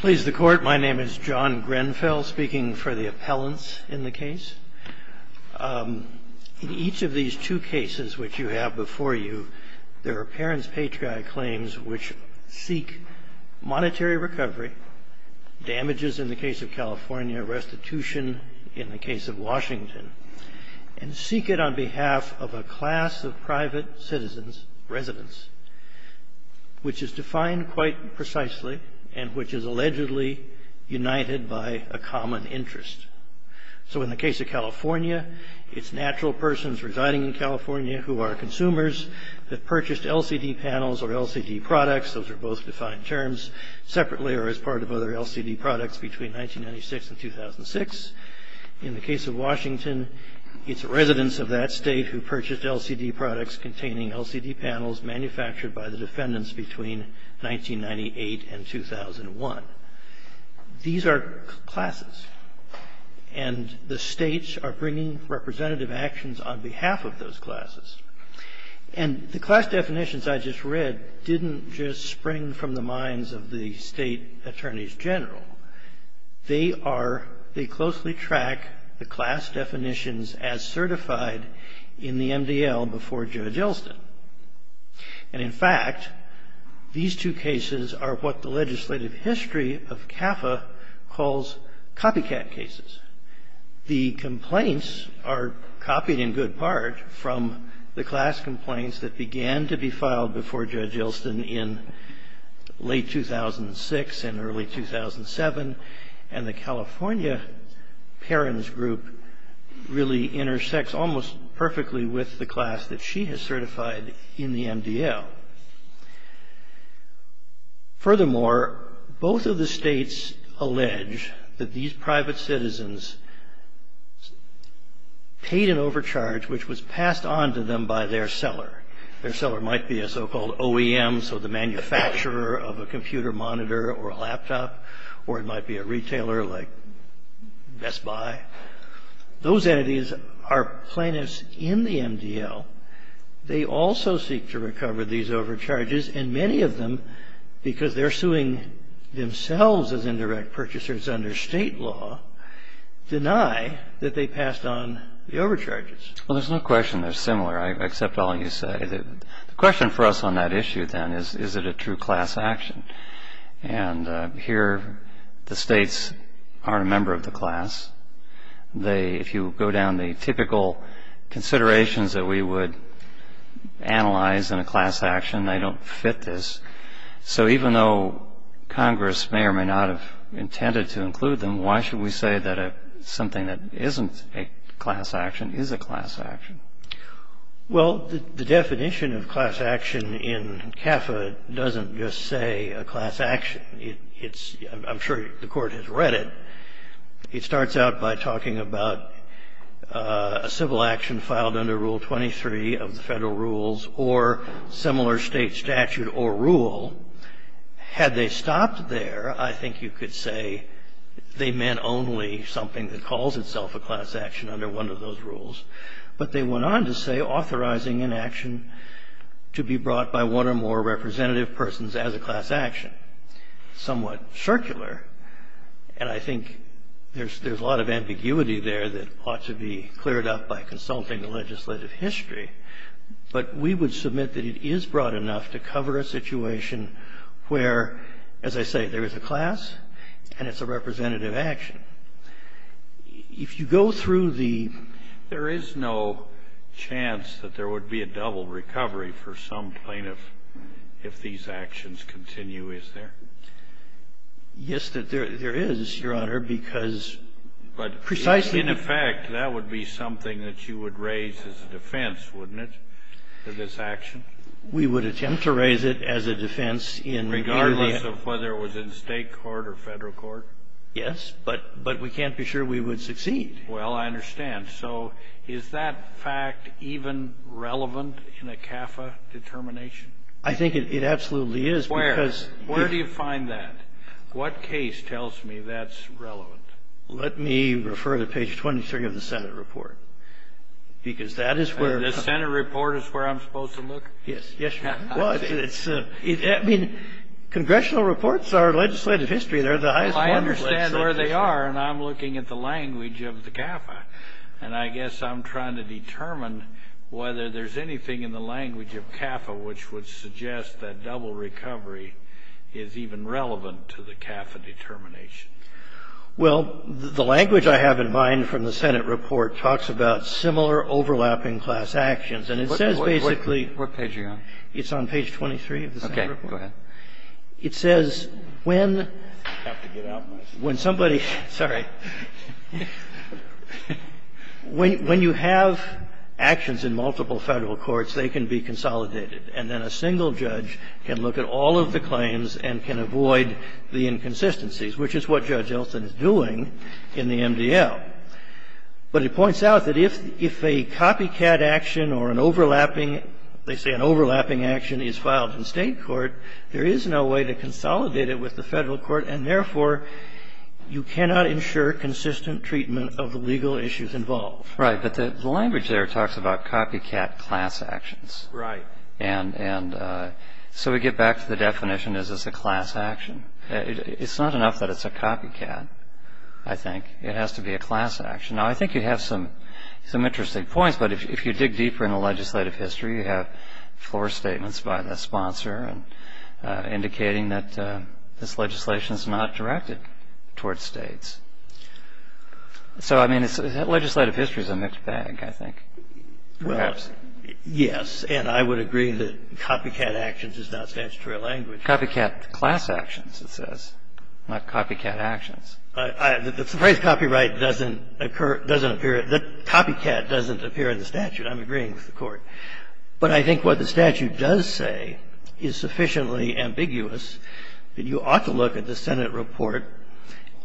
Please the Court, my name is John Grenfell, speaking for the appellants in the case. In each of these two cases which you have before you, there are parents' patriotic claims which seek monetary recovery, damages in the case of California, restitution in the case of Washington, and seek it on behalf of a class of private citizens, residents, which is defined quite precisely and which is allegedly united by a common interest. So in the case of California, it's natural persons residing in California who are consumers that purchased LCD panels or LCD products. Those are both defined terms separately or as part of other LCD products between 1996 and 2006. In the case of Washington, it's residents of that state who purchased LCD products containing LCD panels manufactured by the defendants between 1998 and 2001. These are classes, and the states are bringing representative actions on behalf of those classes. And the class definitions I just read didn't just spring from the minds of the state attorneys general. They are, they closely track the class definitions as certified in the MDL before Judge Elston. And in fact, these two cases are what the legislative history of CAFA calls copycat cases. The complaints are copied in good part from the class complaints that began to be filed before Judge Elston in late 2006 and early 2007. And the California parents group really intersects almost perfectly with the class that she has certified in the MDL. Furthermore, both of the states allege that these private citizens paid an overcharge which was passed on to them by their seller. Their seller might be a so-called OEM, so the manufacturer of a computer monitor or a laptop, or it might be a retailer like Best Buy. Those entities are plaintiffs in the MDL. They also seek to recover these overcharges. And many of them, because they're suing themselves as indirect purchasers under state law, deny that they passed on the overcharges. Well, there's no question they're similar, I accept all you say. The question for us on that issue then is, is it a true class action? And here the states are a member of the class. If you go down the typical considerations that we would analyze in a class action, they don't fit this. So even though Congress may or may not have intended to include them, why should we say that something that isn't a class action is a class action? Well, the definition of class action in CAFA doesn't just say a class action. It's – I'm sure the Court has read it. It starts out by talking about a civil action filed under Rule 23 of the Federal Rules or similar state statute or rule. Had they stopped there, I think you could say they meant only something that calls itself a class action under one of those rules. But they went on to say authorizing an action to be brought by one or more representative persons as a class action, somewhat circular. And I think there's a lot of ambiguity there that ought to be cleared up by consulting the legislative history. But we would submit that it is broad enough to cover a situation where, as I say, there is a class and it's a representative action. If you go through the – There is no chance that there would be a double recovery for some plaintiff if these actions continue, is there? Yes, there is, Your Honor, because precisely – Well, I understand. So is that fact even relevant in a CAFA determination? I think it absolutely is, because – Where? Where do you find that? What case tells me that's relevant? Let me refer to page 23 of the Senate report, because that is where – The Senate report? The Senate report. The Senate report. Yes. The Senate report is where I'm supposed to look? Yes. Yes, Your Honor. Well, it's – I mean, congressional reports are legislative history. They're the highest – Well, I understand where they are, and I'm looking at the language of the CAFA. And I guess I'm trying to determine whether there's anything in the language of CAFA which would suggest that double recovery is even relevant to the CAFA determination. Well, the language I have in mind from the Senate report talks about similar overlapping class actions, and it says basically – What page are you on? It's on page 23 of the Senate report. Okay. Go ahead. It says when – when somebody – sorry. When you have actions in multiple Federal courts, they can be consolidated, and then a single judge can look at all of the claims and can avoid the inconsistencies, which is what Judge Elson is doing in the MDL. But it points out that if a copycat action or an overlapping – they say an overlapping action is filed in State court, there is no way to consolidate it with the Federal court, and therefore, you cannot ensure consistent treatment of the legal issues involved. Right. But the language there talks about copycat class actions. Right. And so we get back to the definition, is this a class action? It's not enough that it's a copycat, I think. It has to be a class action. Now, I think you have some interesting points, but if you dig deeper in the legislative history, you have floor statements by the sponsor indicating that this legislation is not directed towards States. So, I mean, legislative history is a mixed bag, I think, perhaps. Well, yes, and I would agree that copycat actions is not statutory language. Copycat class actions, it says, not copycat actions. The phrase copyright doesn't occur – doesn't appear – the copycat doesn't appear in the statute. I'm agreeing with the Court. But I think what the statute does say is sufficiently ambiguous that you ought to look at the Senate report,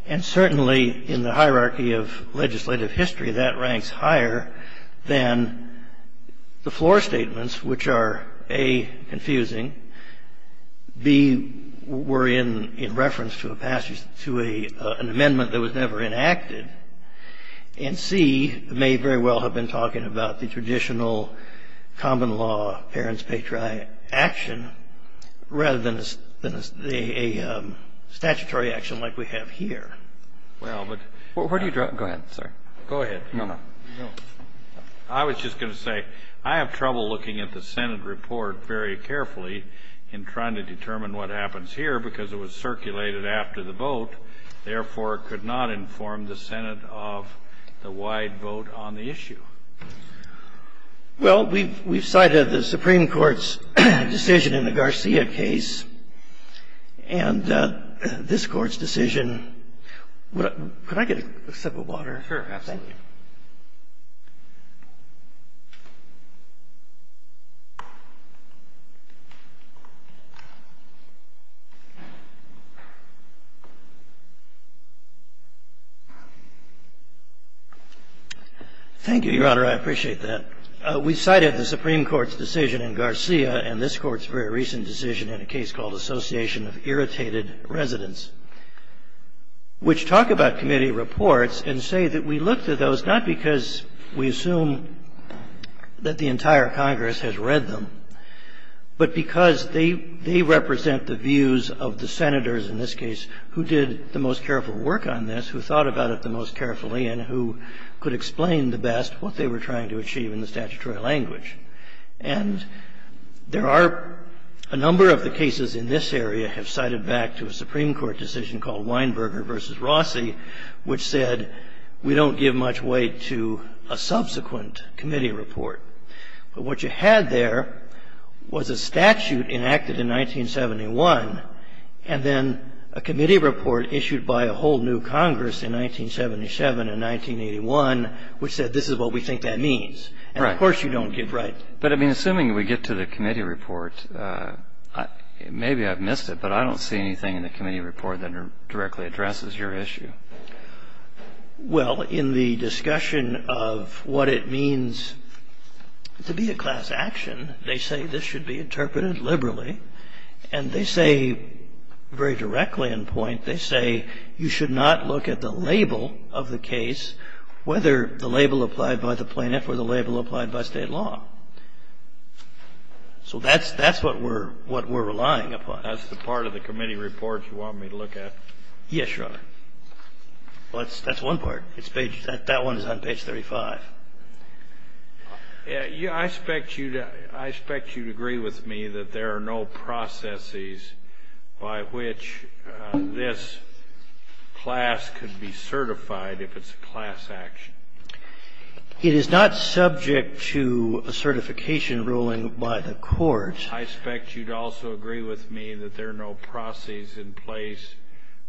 and certainly in the hierarchy of legislative history, that ranks higher than the floor statements, which are, A, confusing, B, were in reference to a passage to an amendment that was never enacted, and C, may very well have been talking about the traditional common law parents' patriotic action, rather than a statutory action like we have here. Well, but – Go ahead, sir. Go ahead. No, no. I was just going to say, I have trouble looking at the Senate report very carefully in trying to determine what happens here, because it was circulated after the vote, therefore it could not inform the Senate of the wide vote on the issue. Well, we've cited the Supreme Court's decision in the Garcia case, and this Court's decision – could I get a sip of water? Sure, absolutely. Thank you. Thank you, Your Honor. I appreciate that. We cited the Supreme Court's decision in Garcia and this Court's very recent decision in a case called Association of Irritated Residents, which talk about committee reports and say that we look to those not because we assume that the entire Congress has read them, but because they represent the views of the Senators in this case who did the most careful work on this, who thought about it the most carefully and who could explain the best what they were trying to achieve in the statutory language. And there are a number of the cases in this area have cited back to a Supreme Court decision in the Garcia case. One of the cases in the Garcia case is the case of Weinberger v. Rossi, which said we don't give much weight to a subsequent committee report. But what you had there was a statute enacted in 1971 and then a committee report issued by a whole new Congress in 1977 and 1981, which said this is what we think that means. Right. And of course you don't give right. Well, in the discussion of what it means to be a class action, they say this should be interpreted liberally and they say very directly in point, they say you should not look at the label of the case, whether the label applied by the plaintiff or the label applied by state law. So that's what we're relying upon. That's the part of the committee report you want me to look at? Yes. Well, that's one part. That one is on page 35. I expect you to agree with me that there are no processes by which this class could be certified if it's a class action. It is not subject to a certification ruling by the court. I expect you'd also agree with me that there are no processes in place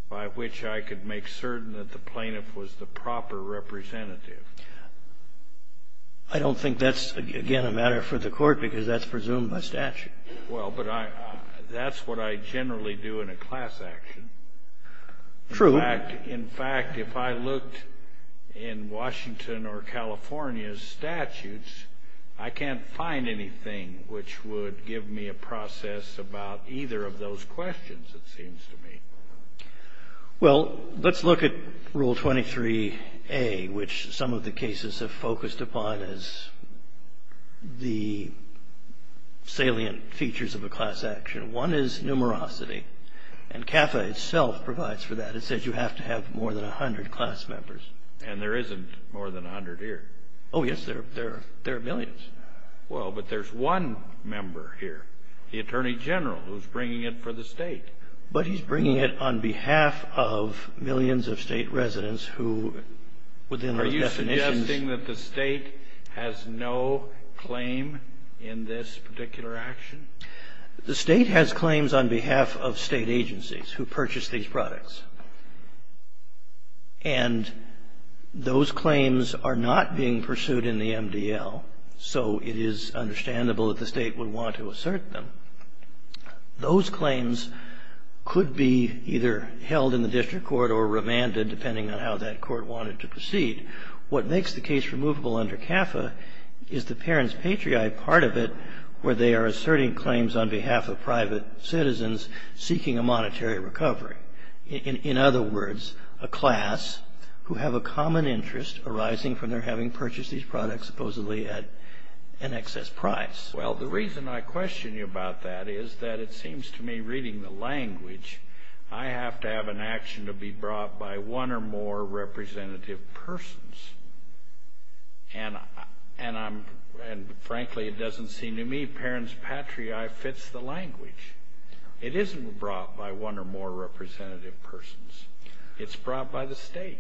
by which I could make certain that the plaintiff was the proper representative. I don't think that's, again, a matter for the court because that's presumed by statute. Well, but that's what I generally do in a class action. True. In fact, if I looked in Washington or California's statutes, I can't find anything which would give me a process about either of those questions, it seems to me. Well, let's look at Rule 23A, which some of the cases have focused upon as the salient features of a class action. One is numerosity. And CAFA itself provides for that. It says you have to have more than 100 class members. And there isn't more than 100 here. Oh, yes, there are millions. Well, but there's one member here, the Attorney General, who's bringing it for the state. But he's bringing it on behalf of millions of state residents who, within our definitions of Are you suggesting that the state has no claim in this particular action? The state has claims on behalf of state agencies who purchase these products. And those claims are not being pursued in the MDL. So it is understandable that the state would want to assert them. Those claims could be either held in the district court or remanded, depending on how that court wanted to proceed. What makes the case removable under CAFA is the parents' patriot part of it, where they are asserting claims on behalf of private citizens seeking a monetary recovery. In other words, a class who have a common interest arising from their having purchased these products supposedly at an excess price. Well, the reason I question you about that is that it seems to me, reading the language, I have to have an action to be brought by one or more representative persons. And frankly, it doesn't seem to me parents' patriot fits the language. It isn't brought by one or more representative persons. It's brought by the state.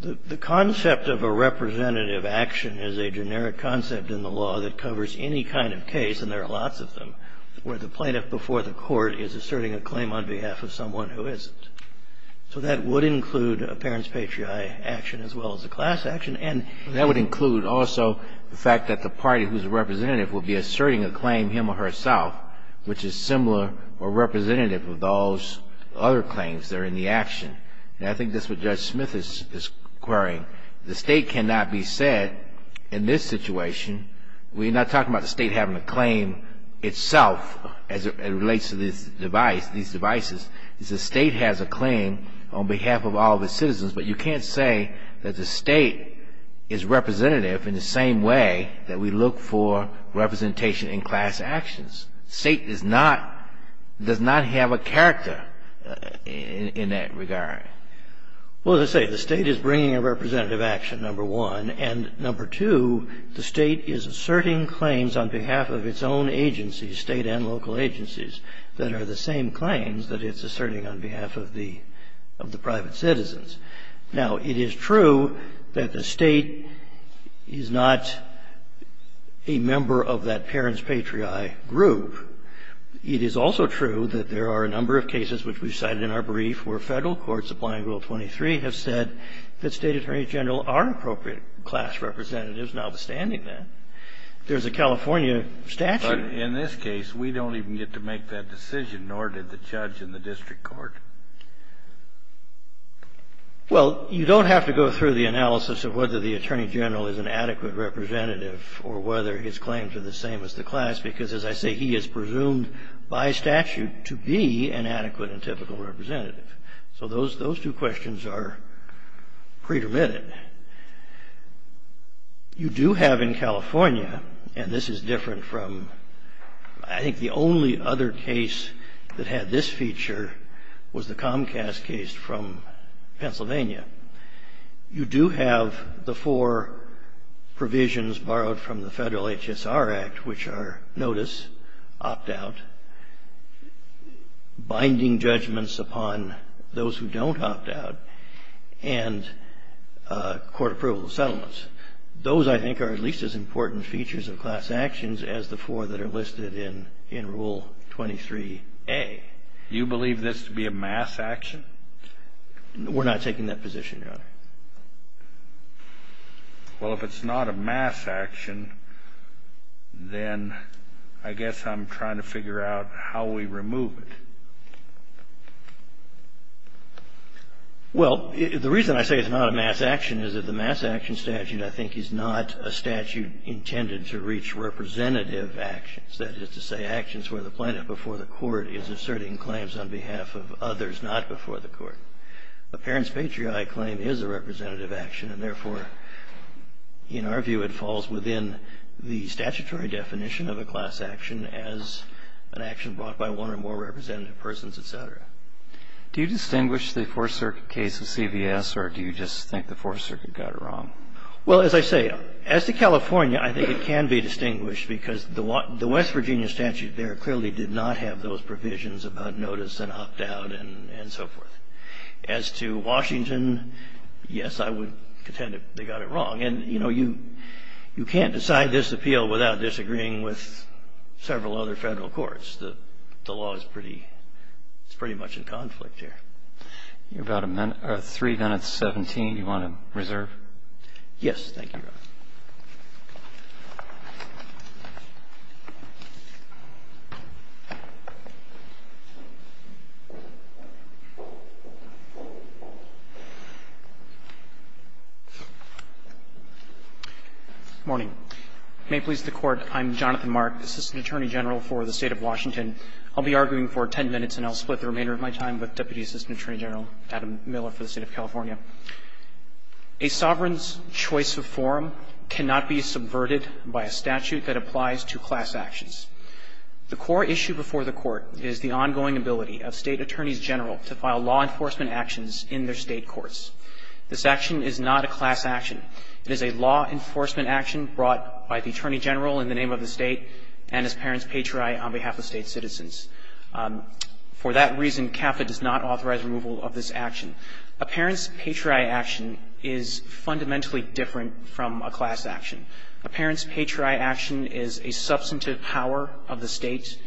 The concept of a representative action is a generic concept in the law that covers any kind of case, and there are lots of them, where the plaintiff before the court is asserting a claim on behalf of someone who isn't. So that would include a parents' patriotic action as well as a class action. And that would include also the fact that the party who is a representative will be asserting a claim, him or herself, which is similar or representative of those other claims that are in the action. And I think that's what Judge Smith is querying. The state cannot be said in this situation. We're not talking about the state having a claim itself as it relates to these devices. The state has a claim on behalf of all of its citizens, but you can't say that the state is representative in the same way that we look for representation in class actions. The state does not have a character in that regard. Well, as I say, the state is bringing a representative action, number one, and number two, the state is asserting claims on behalf of its own agencies, state and local agencies, that are the same claims that it's asserting on behalf of the private citizens. Now, it is true that the state is not a member of that parents' patriotic group. It is also true that there are a number of cases, which we've cited in our brief, where federal courts applying Rule 23 have said that state attorneys general are appropriate class representatives, notwithstanding that. There's a California statute. But in this case, we don't even get to make that decision, nor did the judge in the district court. Well, you don't have to go through the analysis of whether the attorney general is an adequate representative or whether his claims are the same as the class, because, as I say, he is presumed by statute to be an adequate and typical representative. So those two questions are predetermined. You do have in California, and this is different from, I think, the only other case that had this feature was the Comcast case from Pennsylvania, you do have the four provisions borrowed from the Federal HSR Act, which are notice, opt-out, binding judgments upon those who don't opt-out, and a number of other provisions on court approval of settlements. Those, I think, are at least as important features of class actions as the four that are listed in Rule 23a. You believe this to be a mass action? We're not taking that position, Your Honor. Well, if it's not a mass action, then I guess I'm trying to figure out how we remove it. Well, the reason I say it's not a mass action is that the mass action statute, I think, is not a statute intended to reach representative actions. That is to say, actions where the plaintiff before the court is asserting claims on behalf of others not before the court. A parent's patriotic claim is a representative action, and therefore, in our view, it falls within the statutory definition of a class action as an action brought by one or more representative persons, et cetera. Do you distinguish the Fourth Circuit case with CVS, or do you just think the Fourth Circuit got it wrong? Well, as I say, as to California, I think it can be distinguished because the West Virginia statute there clearly did not have those provisions about notice and opt-out and so forth. As to Washington, yes, I would contend that they got it wrong. And, you know, you can't decide this appeal without disagreeing with several other general courts. The law is pretty much in conflict here. You have about a minute or three minutes, 17. Do you want to reserve? Yes. Thank you, Your Honor. Morning. May it please the Court. I'm Jonathan Mark, Assistant Attorney General for the State of Washington. I'll be arguing for 10 minutes, and I'll split the remainder of my time with Deputy Assistant Attorney General Adam Miller for the State of California. A sovereign's choice of forum cannot be subverted by a statute that applies to class actions. The core issue before the Court is the ongoing ability of State Attorneys General to file law enforcement actions in their State courts. This action is not a class action. It is a law enforcement action brought by the Attorney General in the name of the State and as parent's patriarch on behalf of State citizens. For that reason, CAFA does not authorize removal of this action. A parent's patriarch action is fundamentally different from a class action. A parent's patriarch action is a substantive power of the State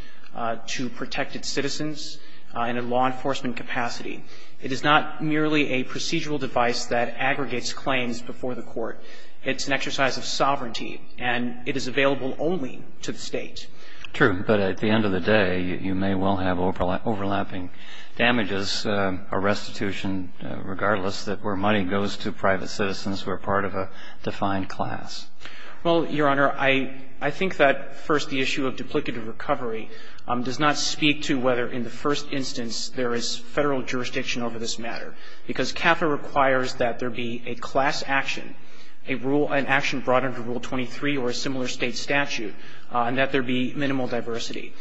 to protect its citizens in a law enforcement capacity. It is not merely a procedural device that aggregates claims before the Court. It's an exercise of sovereignty. And it is available only to the State. True. But at the end of the day, you may well have overlapping damages, a restitution regardless, that where money goes to private citizens, we're part of a defined class. Well, Your Honor, I think that, first, the issue of duplicative recovery does not speak to whether in the first instance there is Federal jurisdiction over this matter. Because CAFA requires that there be a class action, a rule, an action brought under Rule 23 or a similar State statute, and that there be minimal diversity.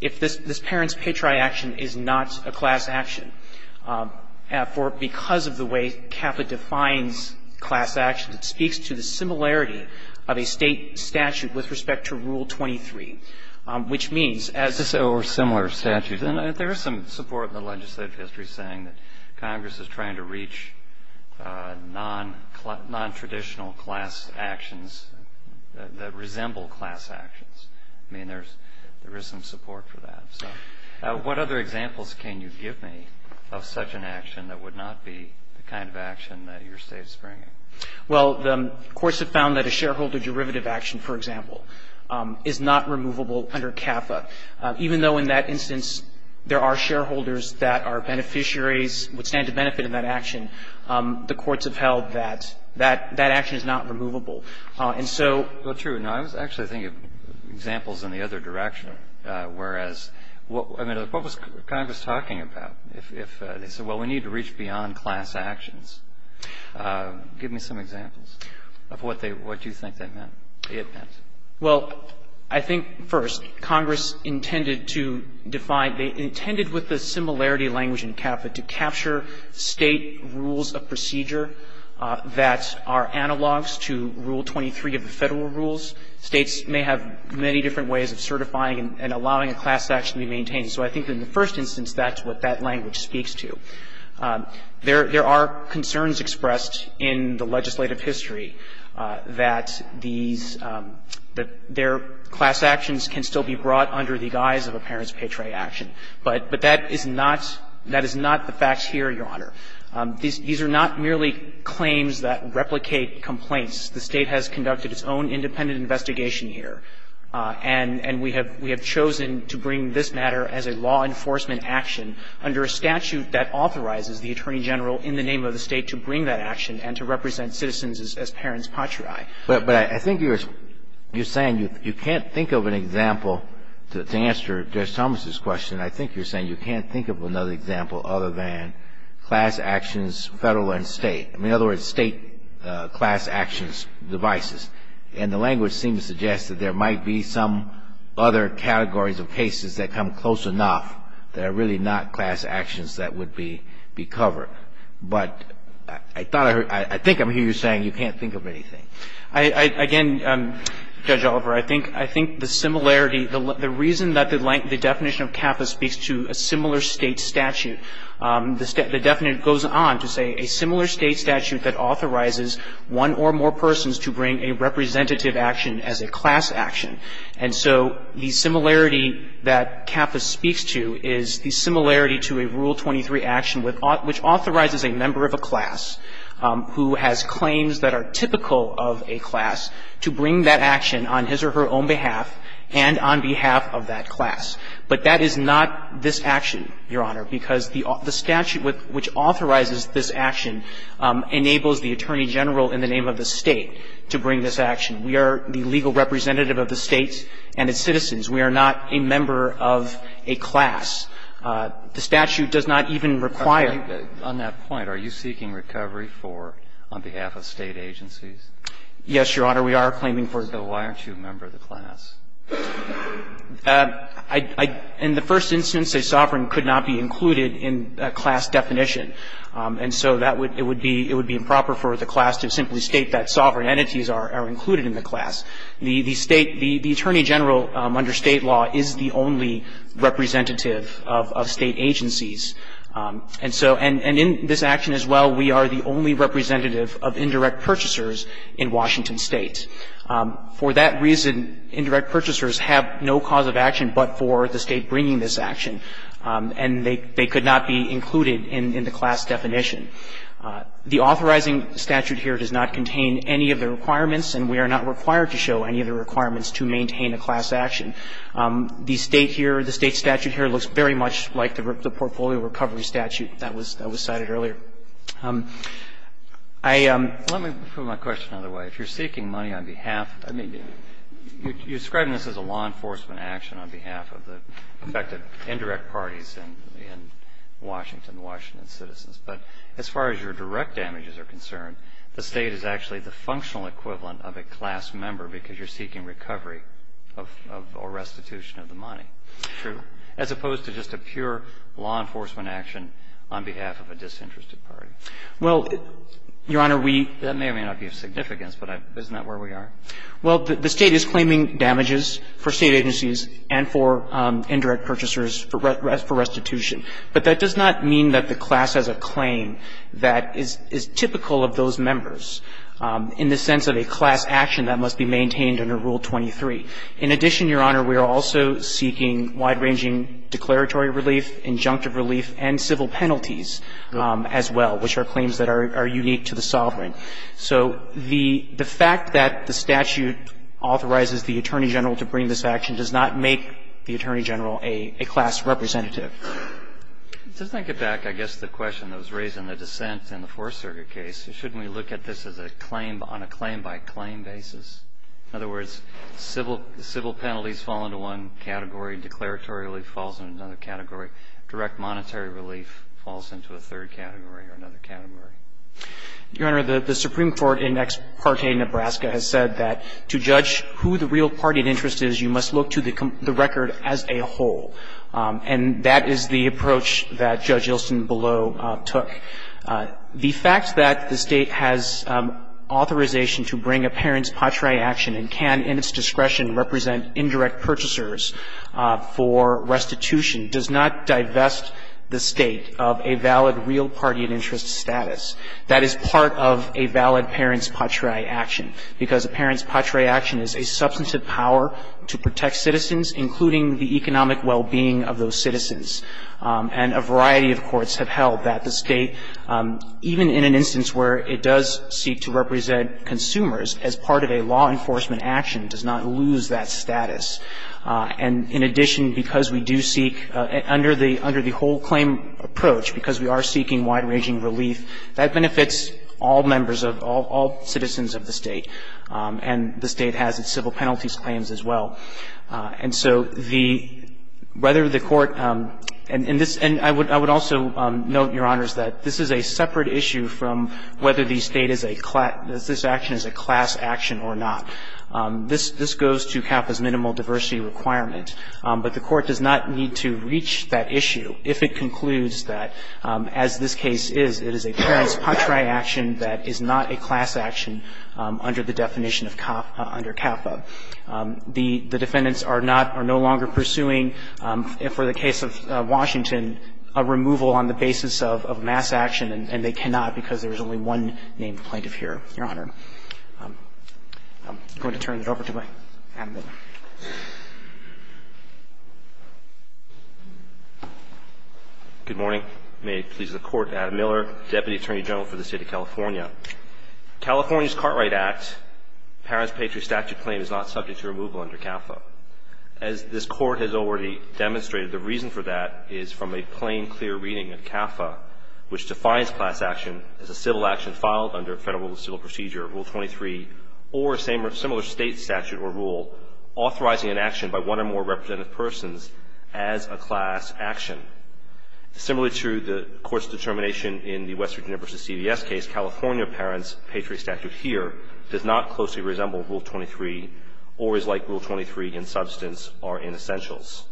If this parent's patriarch action is not a class action, for because of the way CAFA defines class action, it speaks to the similarity of a State statute with respect to Rule 23, which means as this or similar statutes. Then there is some support in the legislative history saying that Congress is trying to reach nontraditional class actions that resemble class actions. I mean, there is some support for that. So what other examples can you give me of such an action that would not be the kind of action that your State is bringing? Well, the courts have found that a shareholder derivative action, for example, is not removable under CAFA. Even though in that instance there are shareholders that are beneficiaries that would stand to benefit in that action, the courts have held that that action is not removable. And so the truth. No, I was actually thinking of examples in the other direction. Whereas, I mean, what was Congress talking about? They said, well, we need to reach beyond class actions. Give me some examples of what they what you think they meant, it meant. Well, I think, first, Congress intended to define, they intended with the similarity language in CAFA to capture State rules of procedure that are analogs to Rule 23 of the Federal rules. States may have many different ways of certifying and allowing a class action to be maintained. So I think in the first instance, that's what that language speaks to. There are concerns expressed in the legislative history that these, that their class actions can still be brought under the guise of a parents' pay tray action. But that is not, that is not the fact here, Your Honor. These are not merely claims that replicate complaints. The State has conducted its own independent investigation here. And we have chosen to bring this matter as a law enforcement action under a statute that authorizes the Attorney General in the name of the State to bring that action and to represent citizens as parents' patriae. But I think you're saying you can't think of an example to answer Judge Thomas's question. I think you're saying you can't think of another example other than class actions Federal and State. In other words, State class actions devices. And the language seems to suggest that there might be some other categories of cases that come close enough that are really not class actions that would be covered. But I thought I heard, I think I'm hearing you saying you can't think of anything. I, again, Judge Oliver, I think the similarity, the reason that the definition of CAFA speaks to a similar State statute, the definition goes on to say a similar State statute that authorizes one or more persons to bring a representative action as a class action. And so the similarity that CAFA speaks to is the similarity to a Rule 23 action which authorizes a member of a class who has claims that are typical of a class to bring that action on his or her own behalf and on behalf of that class. But that is not this action, Your Honor, because the statute which authorizes this action enables the Attorney General in the name of the State to bring this action. We are the legal representative of the State and its citizens. We are not a member of a class. The statute does not even require. On that point, are you seeking recovery for on behalf of State agencies? Yes, Your Honor, we are claiming for. So why aren't you a member of the class? In the first instance, a sovereign could not be included in a class definition. And so that would be, it would be improper for the class to simply state that sovereign entities are included in the class. The State, the Attorney General under State law is the only representative of State agencies. And so, and in this action as well, we are the only representative of indirect purchasers in Washington State. For that reason, indirect purchasers have no cause of action but for the State bringing this action. And they could not be included in the class definition. The authorizing statute here does not contain any of the requirements and we are not required to show any of the requirements to maintain a class action. The State here, the State statute here looks very much like the portfolio recovery statute that was cited earlier. I am Let me put my question another way. If you're seeking money on behalf, I mean, you're describing this as a law enforcement action, and you're not claiming damages for State agencies. You're claiming damages for State citizens. But as far as your direct damages are concerned, the State is actually the functional equivalent of a class member because you're seeking recovery of, or restitution of the money. True. As opposed to just a pure law enforcement action on behalf of a disinterested party. Well, Your Honor, we That may or may not be of significance, but isn't that where we are? Well, the State is claiming damages for State agencies and for indirect purchasers for restitution. But that does not mean that the class has a claim that is typical of those members in the sense of a class action that must be maintained under Rule 23. In addition, Your Honor, we are also seeking wide-ranging declaratory relief, injunctive relief, and civil penalties as well, which are claims that are unique to the sovereign. So the fact that the statute authorizes the Attorney General to bring this action does not make the Attorney General a class representative. Just to get back, I guess, to the question that was raised in the dissent in the Fourth Circuit case, shouldn't we look at this as a claim on a claim-by-claim basis? In other words, civil penalties fall into one category, declaratory relief falls into another category, direct monetary relief falls into a third category or another category. Your Honor, the Supreme Court in Ex parte, Nebraska, has said that to judge who the real party of interest is, you must look to the record as a whole. And that is the approach that Judge Ilsen below took. The fact that the State has authorization to bring a parent's patriae action and can in its discretion represent indirect purchasers for restitution does not divest the State of a valid real party of interest status. That is part of a valid parent's patriae action, because a parent's patriae action is a substantive power to protect citizens, including the economic well-being of those citizens. And a variety of courts have held that the State, even in an instance where it does seek to represent consumers as part of a law enforcement action, does not lose that status. And in addition, because we do seek, under the whole claim approach, because we are seeking wide-ranging relief, that benefits all members of, all citizens of the State. And the State has its civil penalties claims as well. And so the, whether the Court, and this, and I would also note, Your Honors, that this is a separate issue from whether the State is a, this action is a class action or not. This, this goes to CAPA's minimal diversity requirement. But the Court does not need to reach that issue if it concludes that, as this case is, it is a parent's patriae action that is not a class action under the definition of, under CAPA. The defendants are not, are no longer pursuing, for the case of Washington, a removal on the basis of mass action, and they cannot because there is only one named plaintiff here, Your Honor. I'm going to turn it over to my, Adam Miller. Good morning. May it please the Court. Adam Miller, Deputy Attorney General for the State of California. California's Cartwright Act, parent's patriae statute claim, is not subject to removal under CAPA. As this Court has already demonstrated, the reason for that is from a plain, clear reading of CAPA, which defines class action as a civil action filed under Federal Civil Procedure, Rule 23, or a similar State statute or rule authorizing an action by one or more representative persons as a class action. Similar to the Court's determination in the West Virginia v. CBS case, California parent's patriae statute here does not closely resemble Rule 23 or is like Rule 23 in substance or in essentials.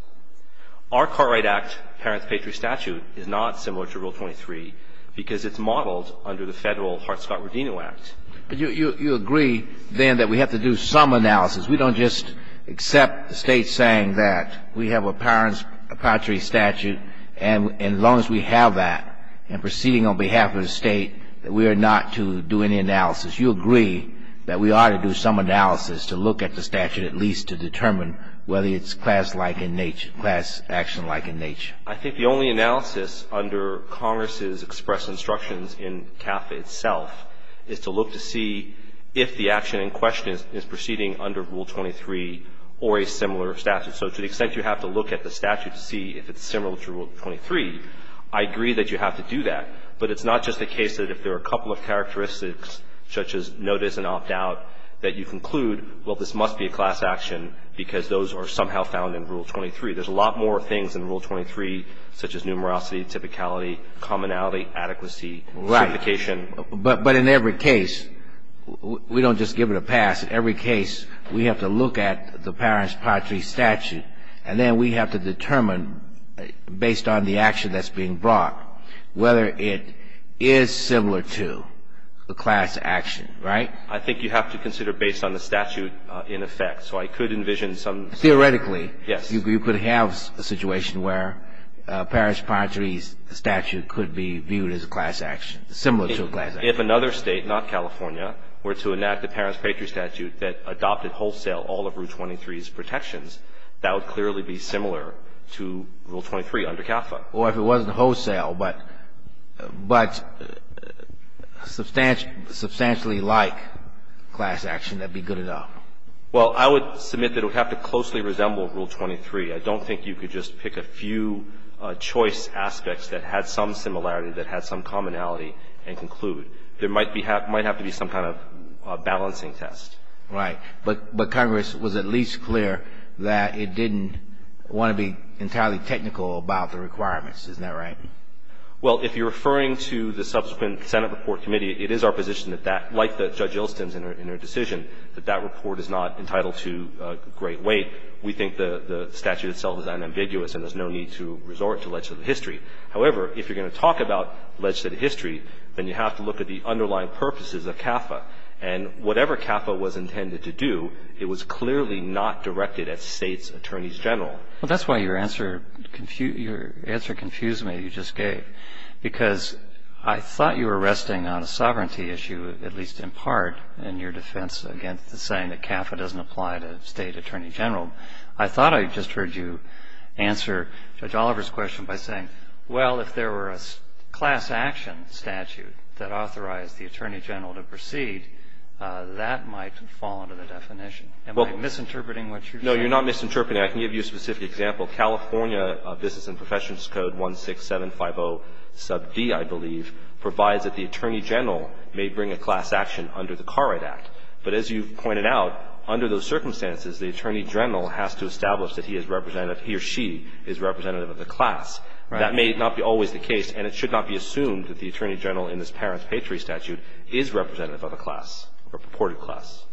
Our Cartwright Act parent's patriae statute is not similar to Rule 23 because it's under the Federal Heart, Scott, Rodino Act. But you agree, then, that we have to do some analysis. We don't just accept the State saying that. We have a parent's patriae statute, and as long as we have that, and proceeding on behalf of the State, that we are not to do any analysis. You agree that we ought to do some analysis to look at the statute at least to determine whether it's class-like in nature, class action-like in nature. I think the only analysis under Congress's express instructions in CAFA itself is to look to see if the action in question is proceeding under Rule 23 or a similar statute. So to the extent you have to look at the statute to see if it's similar to Rule 23, I agree that you have to do that. But it's not just the case that if there are a couple of characteristics, such as notice and opt-out, that you conclude, well, this must be a class action because those are somehow found in Rule 23. There's a lot more things in Rule 23, such as numerosity, typicality, commonality, adequacy, simplification. Right. But in every case, we don't just give it a pass. In every case, we have to look at the parent's patriae statute, and then we have to determine, based on the action that's being brought, whether it is similar to a class action, right? I think you have to consider based on the statute in effect. So I could envision some of the same. Theoretically. You could have a situation where a parent's patriae statute could be viewed as a class action, similar to a class action. If another State, not California, were to enact a parent's patriae statute that adopted wholesale all of Rule 23's protections, that would clearly be similar to Rule 23 under CAFA. Or if it wasn't wholesale, but substantially like class action, that would be good enough. Well, I would submit that it would have to closely resemble Rule 23. I don't think you could just pick a few choice aspects that had some similarity, that had some commonality, and conclude. There might have to be some kind of balancing test. Right. But Congress was at least clear that it didn't want to be entirely technical about the requirements. Isn't that right? Well, if you're referring to the subsequent Senate report committee, it is our position that that, like Judge Ilston's in her decision, that that report is not entitled to great weight. We think the statute itself is unambiguous and there's no need to resort to legislative history. However, if you're going to talk about legislative history, then you have to look at the underlying purposes of CAFA. And whatever CAFA was intended to do, it was clearly not directed at States Attorneys General. Well, that's why your answer confused me, you just gave. Because I thought you were resting on a sovereignty issue, at least in part, in your defense against the saying that CAFA doesn't apply to State Attorney General. I thought I just heard you answer Judge Oliver's question by saying, well, if there were a class action statute that authorized the Attorney General to proceed, that might fall under the definition. Am I misinterpreting what you're saying? No, you're not misinterpreting. I can give you a specific example. California Business and Professions Code 16750, sub D, I believe, provides that the Attorney General may bring a class action under the Car Write Act. But as you've pointed out, under those circumstances, the Attorney General has to establish that he or she is representative of the class. Right. That may not be always the case, and it should not be assumed that the Attorney General in this parent's Patriot statute is representative of a class or purported class.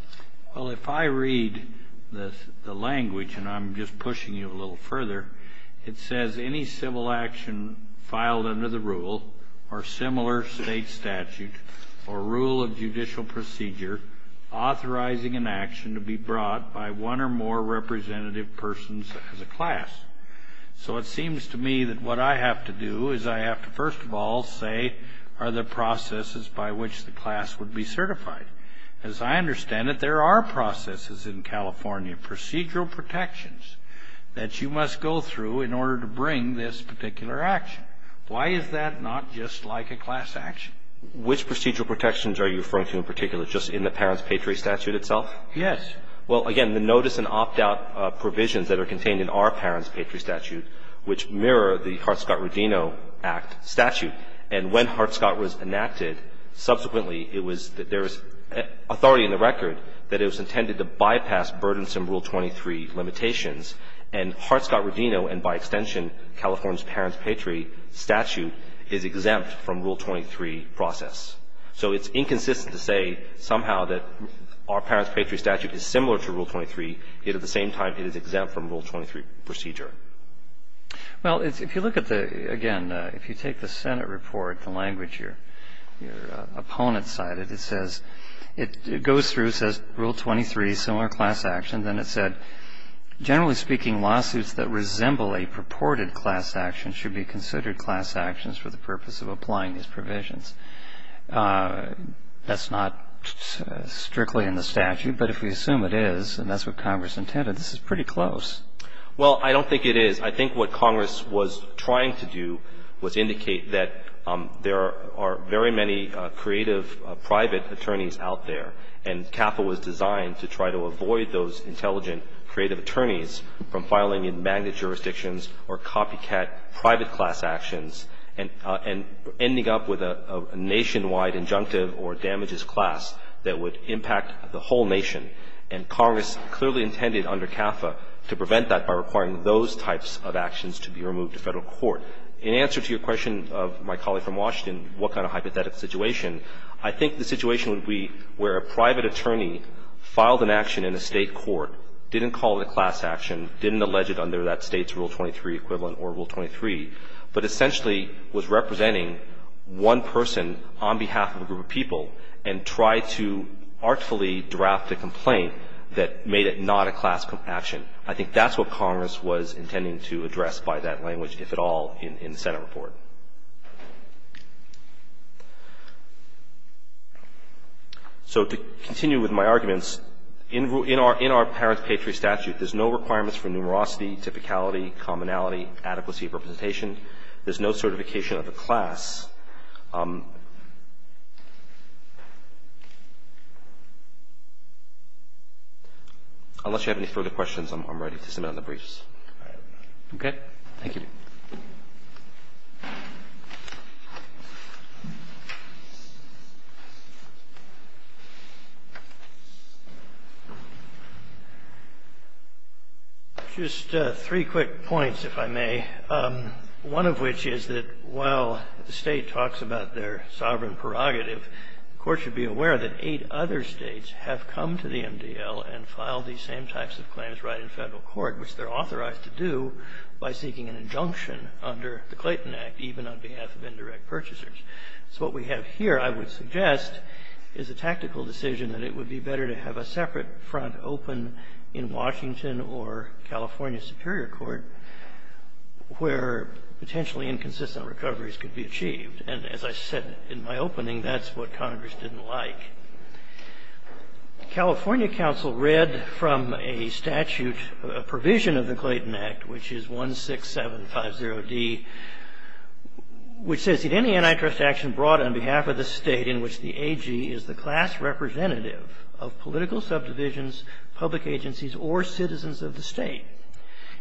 Well, if I read the language, and I'm just pushing you a little further, it says, any civil action filed under the rule or similar state statute or rule of judicial procedure authorizing an action to be brought by one or more representative persons as a class. So it seems to me that what I have to do is I have to, first of all, say are the processes by which the class would be certified. As I understand it, there are processes in California, procedural protections that you must go through in order to bring this particular action. Why is that not just like a class action? Which procedural protections are you referring to in particular, just in the parent's Patriot statute itself? Yes. Well, again, the notice and opt-out provisions that are contained in our parent's Patriot statute which mirror the Hartscott-Rodino Act statute. And when Hartscott was enacted, subsequently it was that there was authority in the record that it was intended to bypass burdensome Rule 23 limitations. And Hartscott-Rodino, and by extension, California's parent's Patriot statute, is exempt from Rule 23 process. So it's inconsistent to say somehow that our parent's Patriot statute is similar to Rule 23, yet at the same time it is exempt from Rule 23 procedure. Well, if you look at the, again, if you take the Senate report, the language your opponent cited, it says, it goes through, says Rule 23, similar class action. Then it said, generally speaking, lawsuits that resemble a purported class action should be considered class actions for the purpose of applying these provisions. That's not strictly in the statute, but if we assume it is, and that's what Congress intended, this is pretty close. Well, I don't think it is. I think what Congress was trying to do was indicate that there are very many creative private attorneys out there, and CAFA was designed to try to avoid those intelligent creative attorneys from filing in magnet jurisdictions or copycat private class actions and ending up with a nationwide injunctive or damages class that would impact the whole nation. And Congress clearly intended under CAFA to prevent that by requiring those types of actions to be removed to Federal court. In answer to your question of my colleague from Washington, what kind of hypothetical situation, I think the situation would be where a private attorney filed an action in a State court, didn't call it a class action, didn't allege it under that State's Rule 23 equivalent or Rule 23, but essentially was representing one person on behalf of a group of people and tried to artfully draft a complaint that made it not a class action. I think that's what Congress was intending to address by that language, if at all, in the Senate report. So to continue with my arguments, in our parent's Patriot statute, there's no requirements for numerosity, typicality, commonality, adequacy of representation. There's no certification of the class. Unless you have any further questions, I'm ready to submit on the briefs. Okay. Thank you. Just three quick points, if I may. One of which is that while the State talks about their sovereign prerogative, the Court should be aware that eight other States have come to the MDL and filed these same types of claims right in federal court, which they're authorized to do by seeking an injunction under the Clayton Act, even on behalf of indirect purchasers. So what we have here, I would suggest, is a tactical decision that it would be better to have a separate front open in Washington or California Superior Court, where potentially inconsistent recoveries could be achieved. And as I said in my opening, that's what Congress didn't like. California counsel read from a statute, a provision of the Clayton Act, which is 16750D, which says, Did any antitrust action brought on behalf of the State in which the AG is the class representative of political subdivisions, public agencies, or citizens of the State?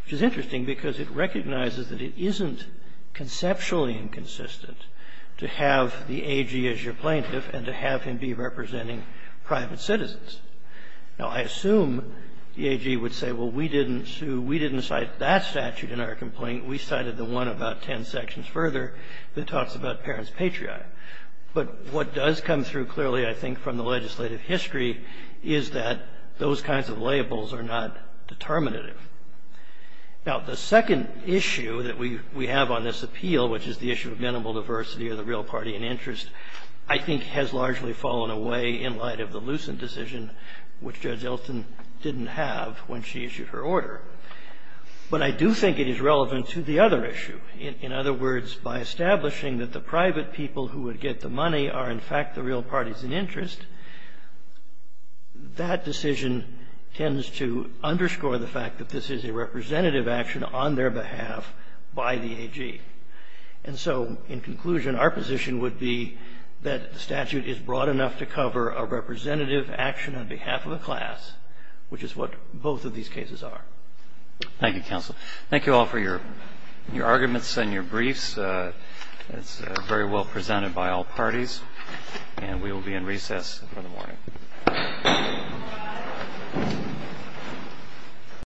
Which is interesting because it recognizes that it isn't conceptually inconsistent to have the AG as your plaintiff and to have him be representing private citizens. Now, I assume the AG would say, well, we didn't sue, we didn't cite that statute in our complaint. We cited the one about ten sections further that talks about parents' patriarchy. But what does come through clearly, I think, from the legislative history is that those kinds of labels are not determinative. Now, the second issue that we have on this appeal, which is the issue of minimal diversity or the real party in interest, I think has largely fallen away in light of the Lucent decision, which Judge Elston didn't have when she issued her order. But I do think it is relevant to the other issue. In other words, by establishing that the private people who would get the money are, in fact, the real parties in interest, that decision tends to underscore the fact that this is a representative action on their behalf by the AG. And so, in conclusion, our position would be that the statute is broad enough to cover a representative action on behalf of a class, which is what both of these cases are. Thank you, counsel. Thank you all for your arguments and your briefs. It's very well presented by all parties. And we will be in recess for the morning. Thank you.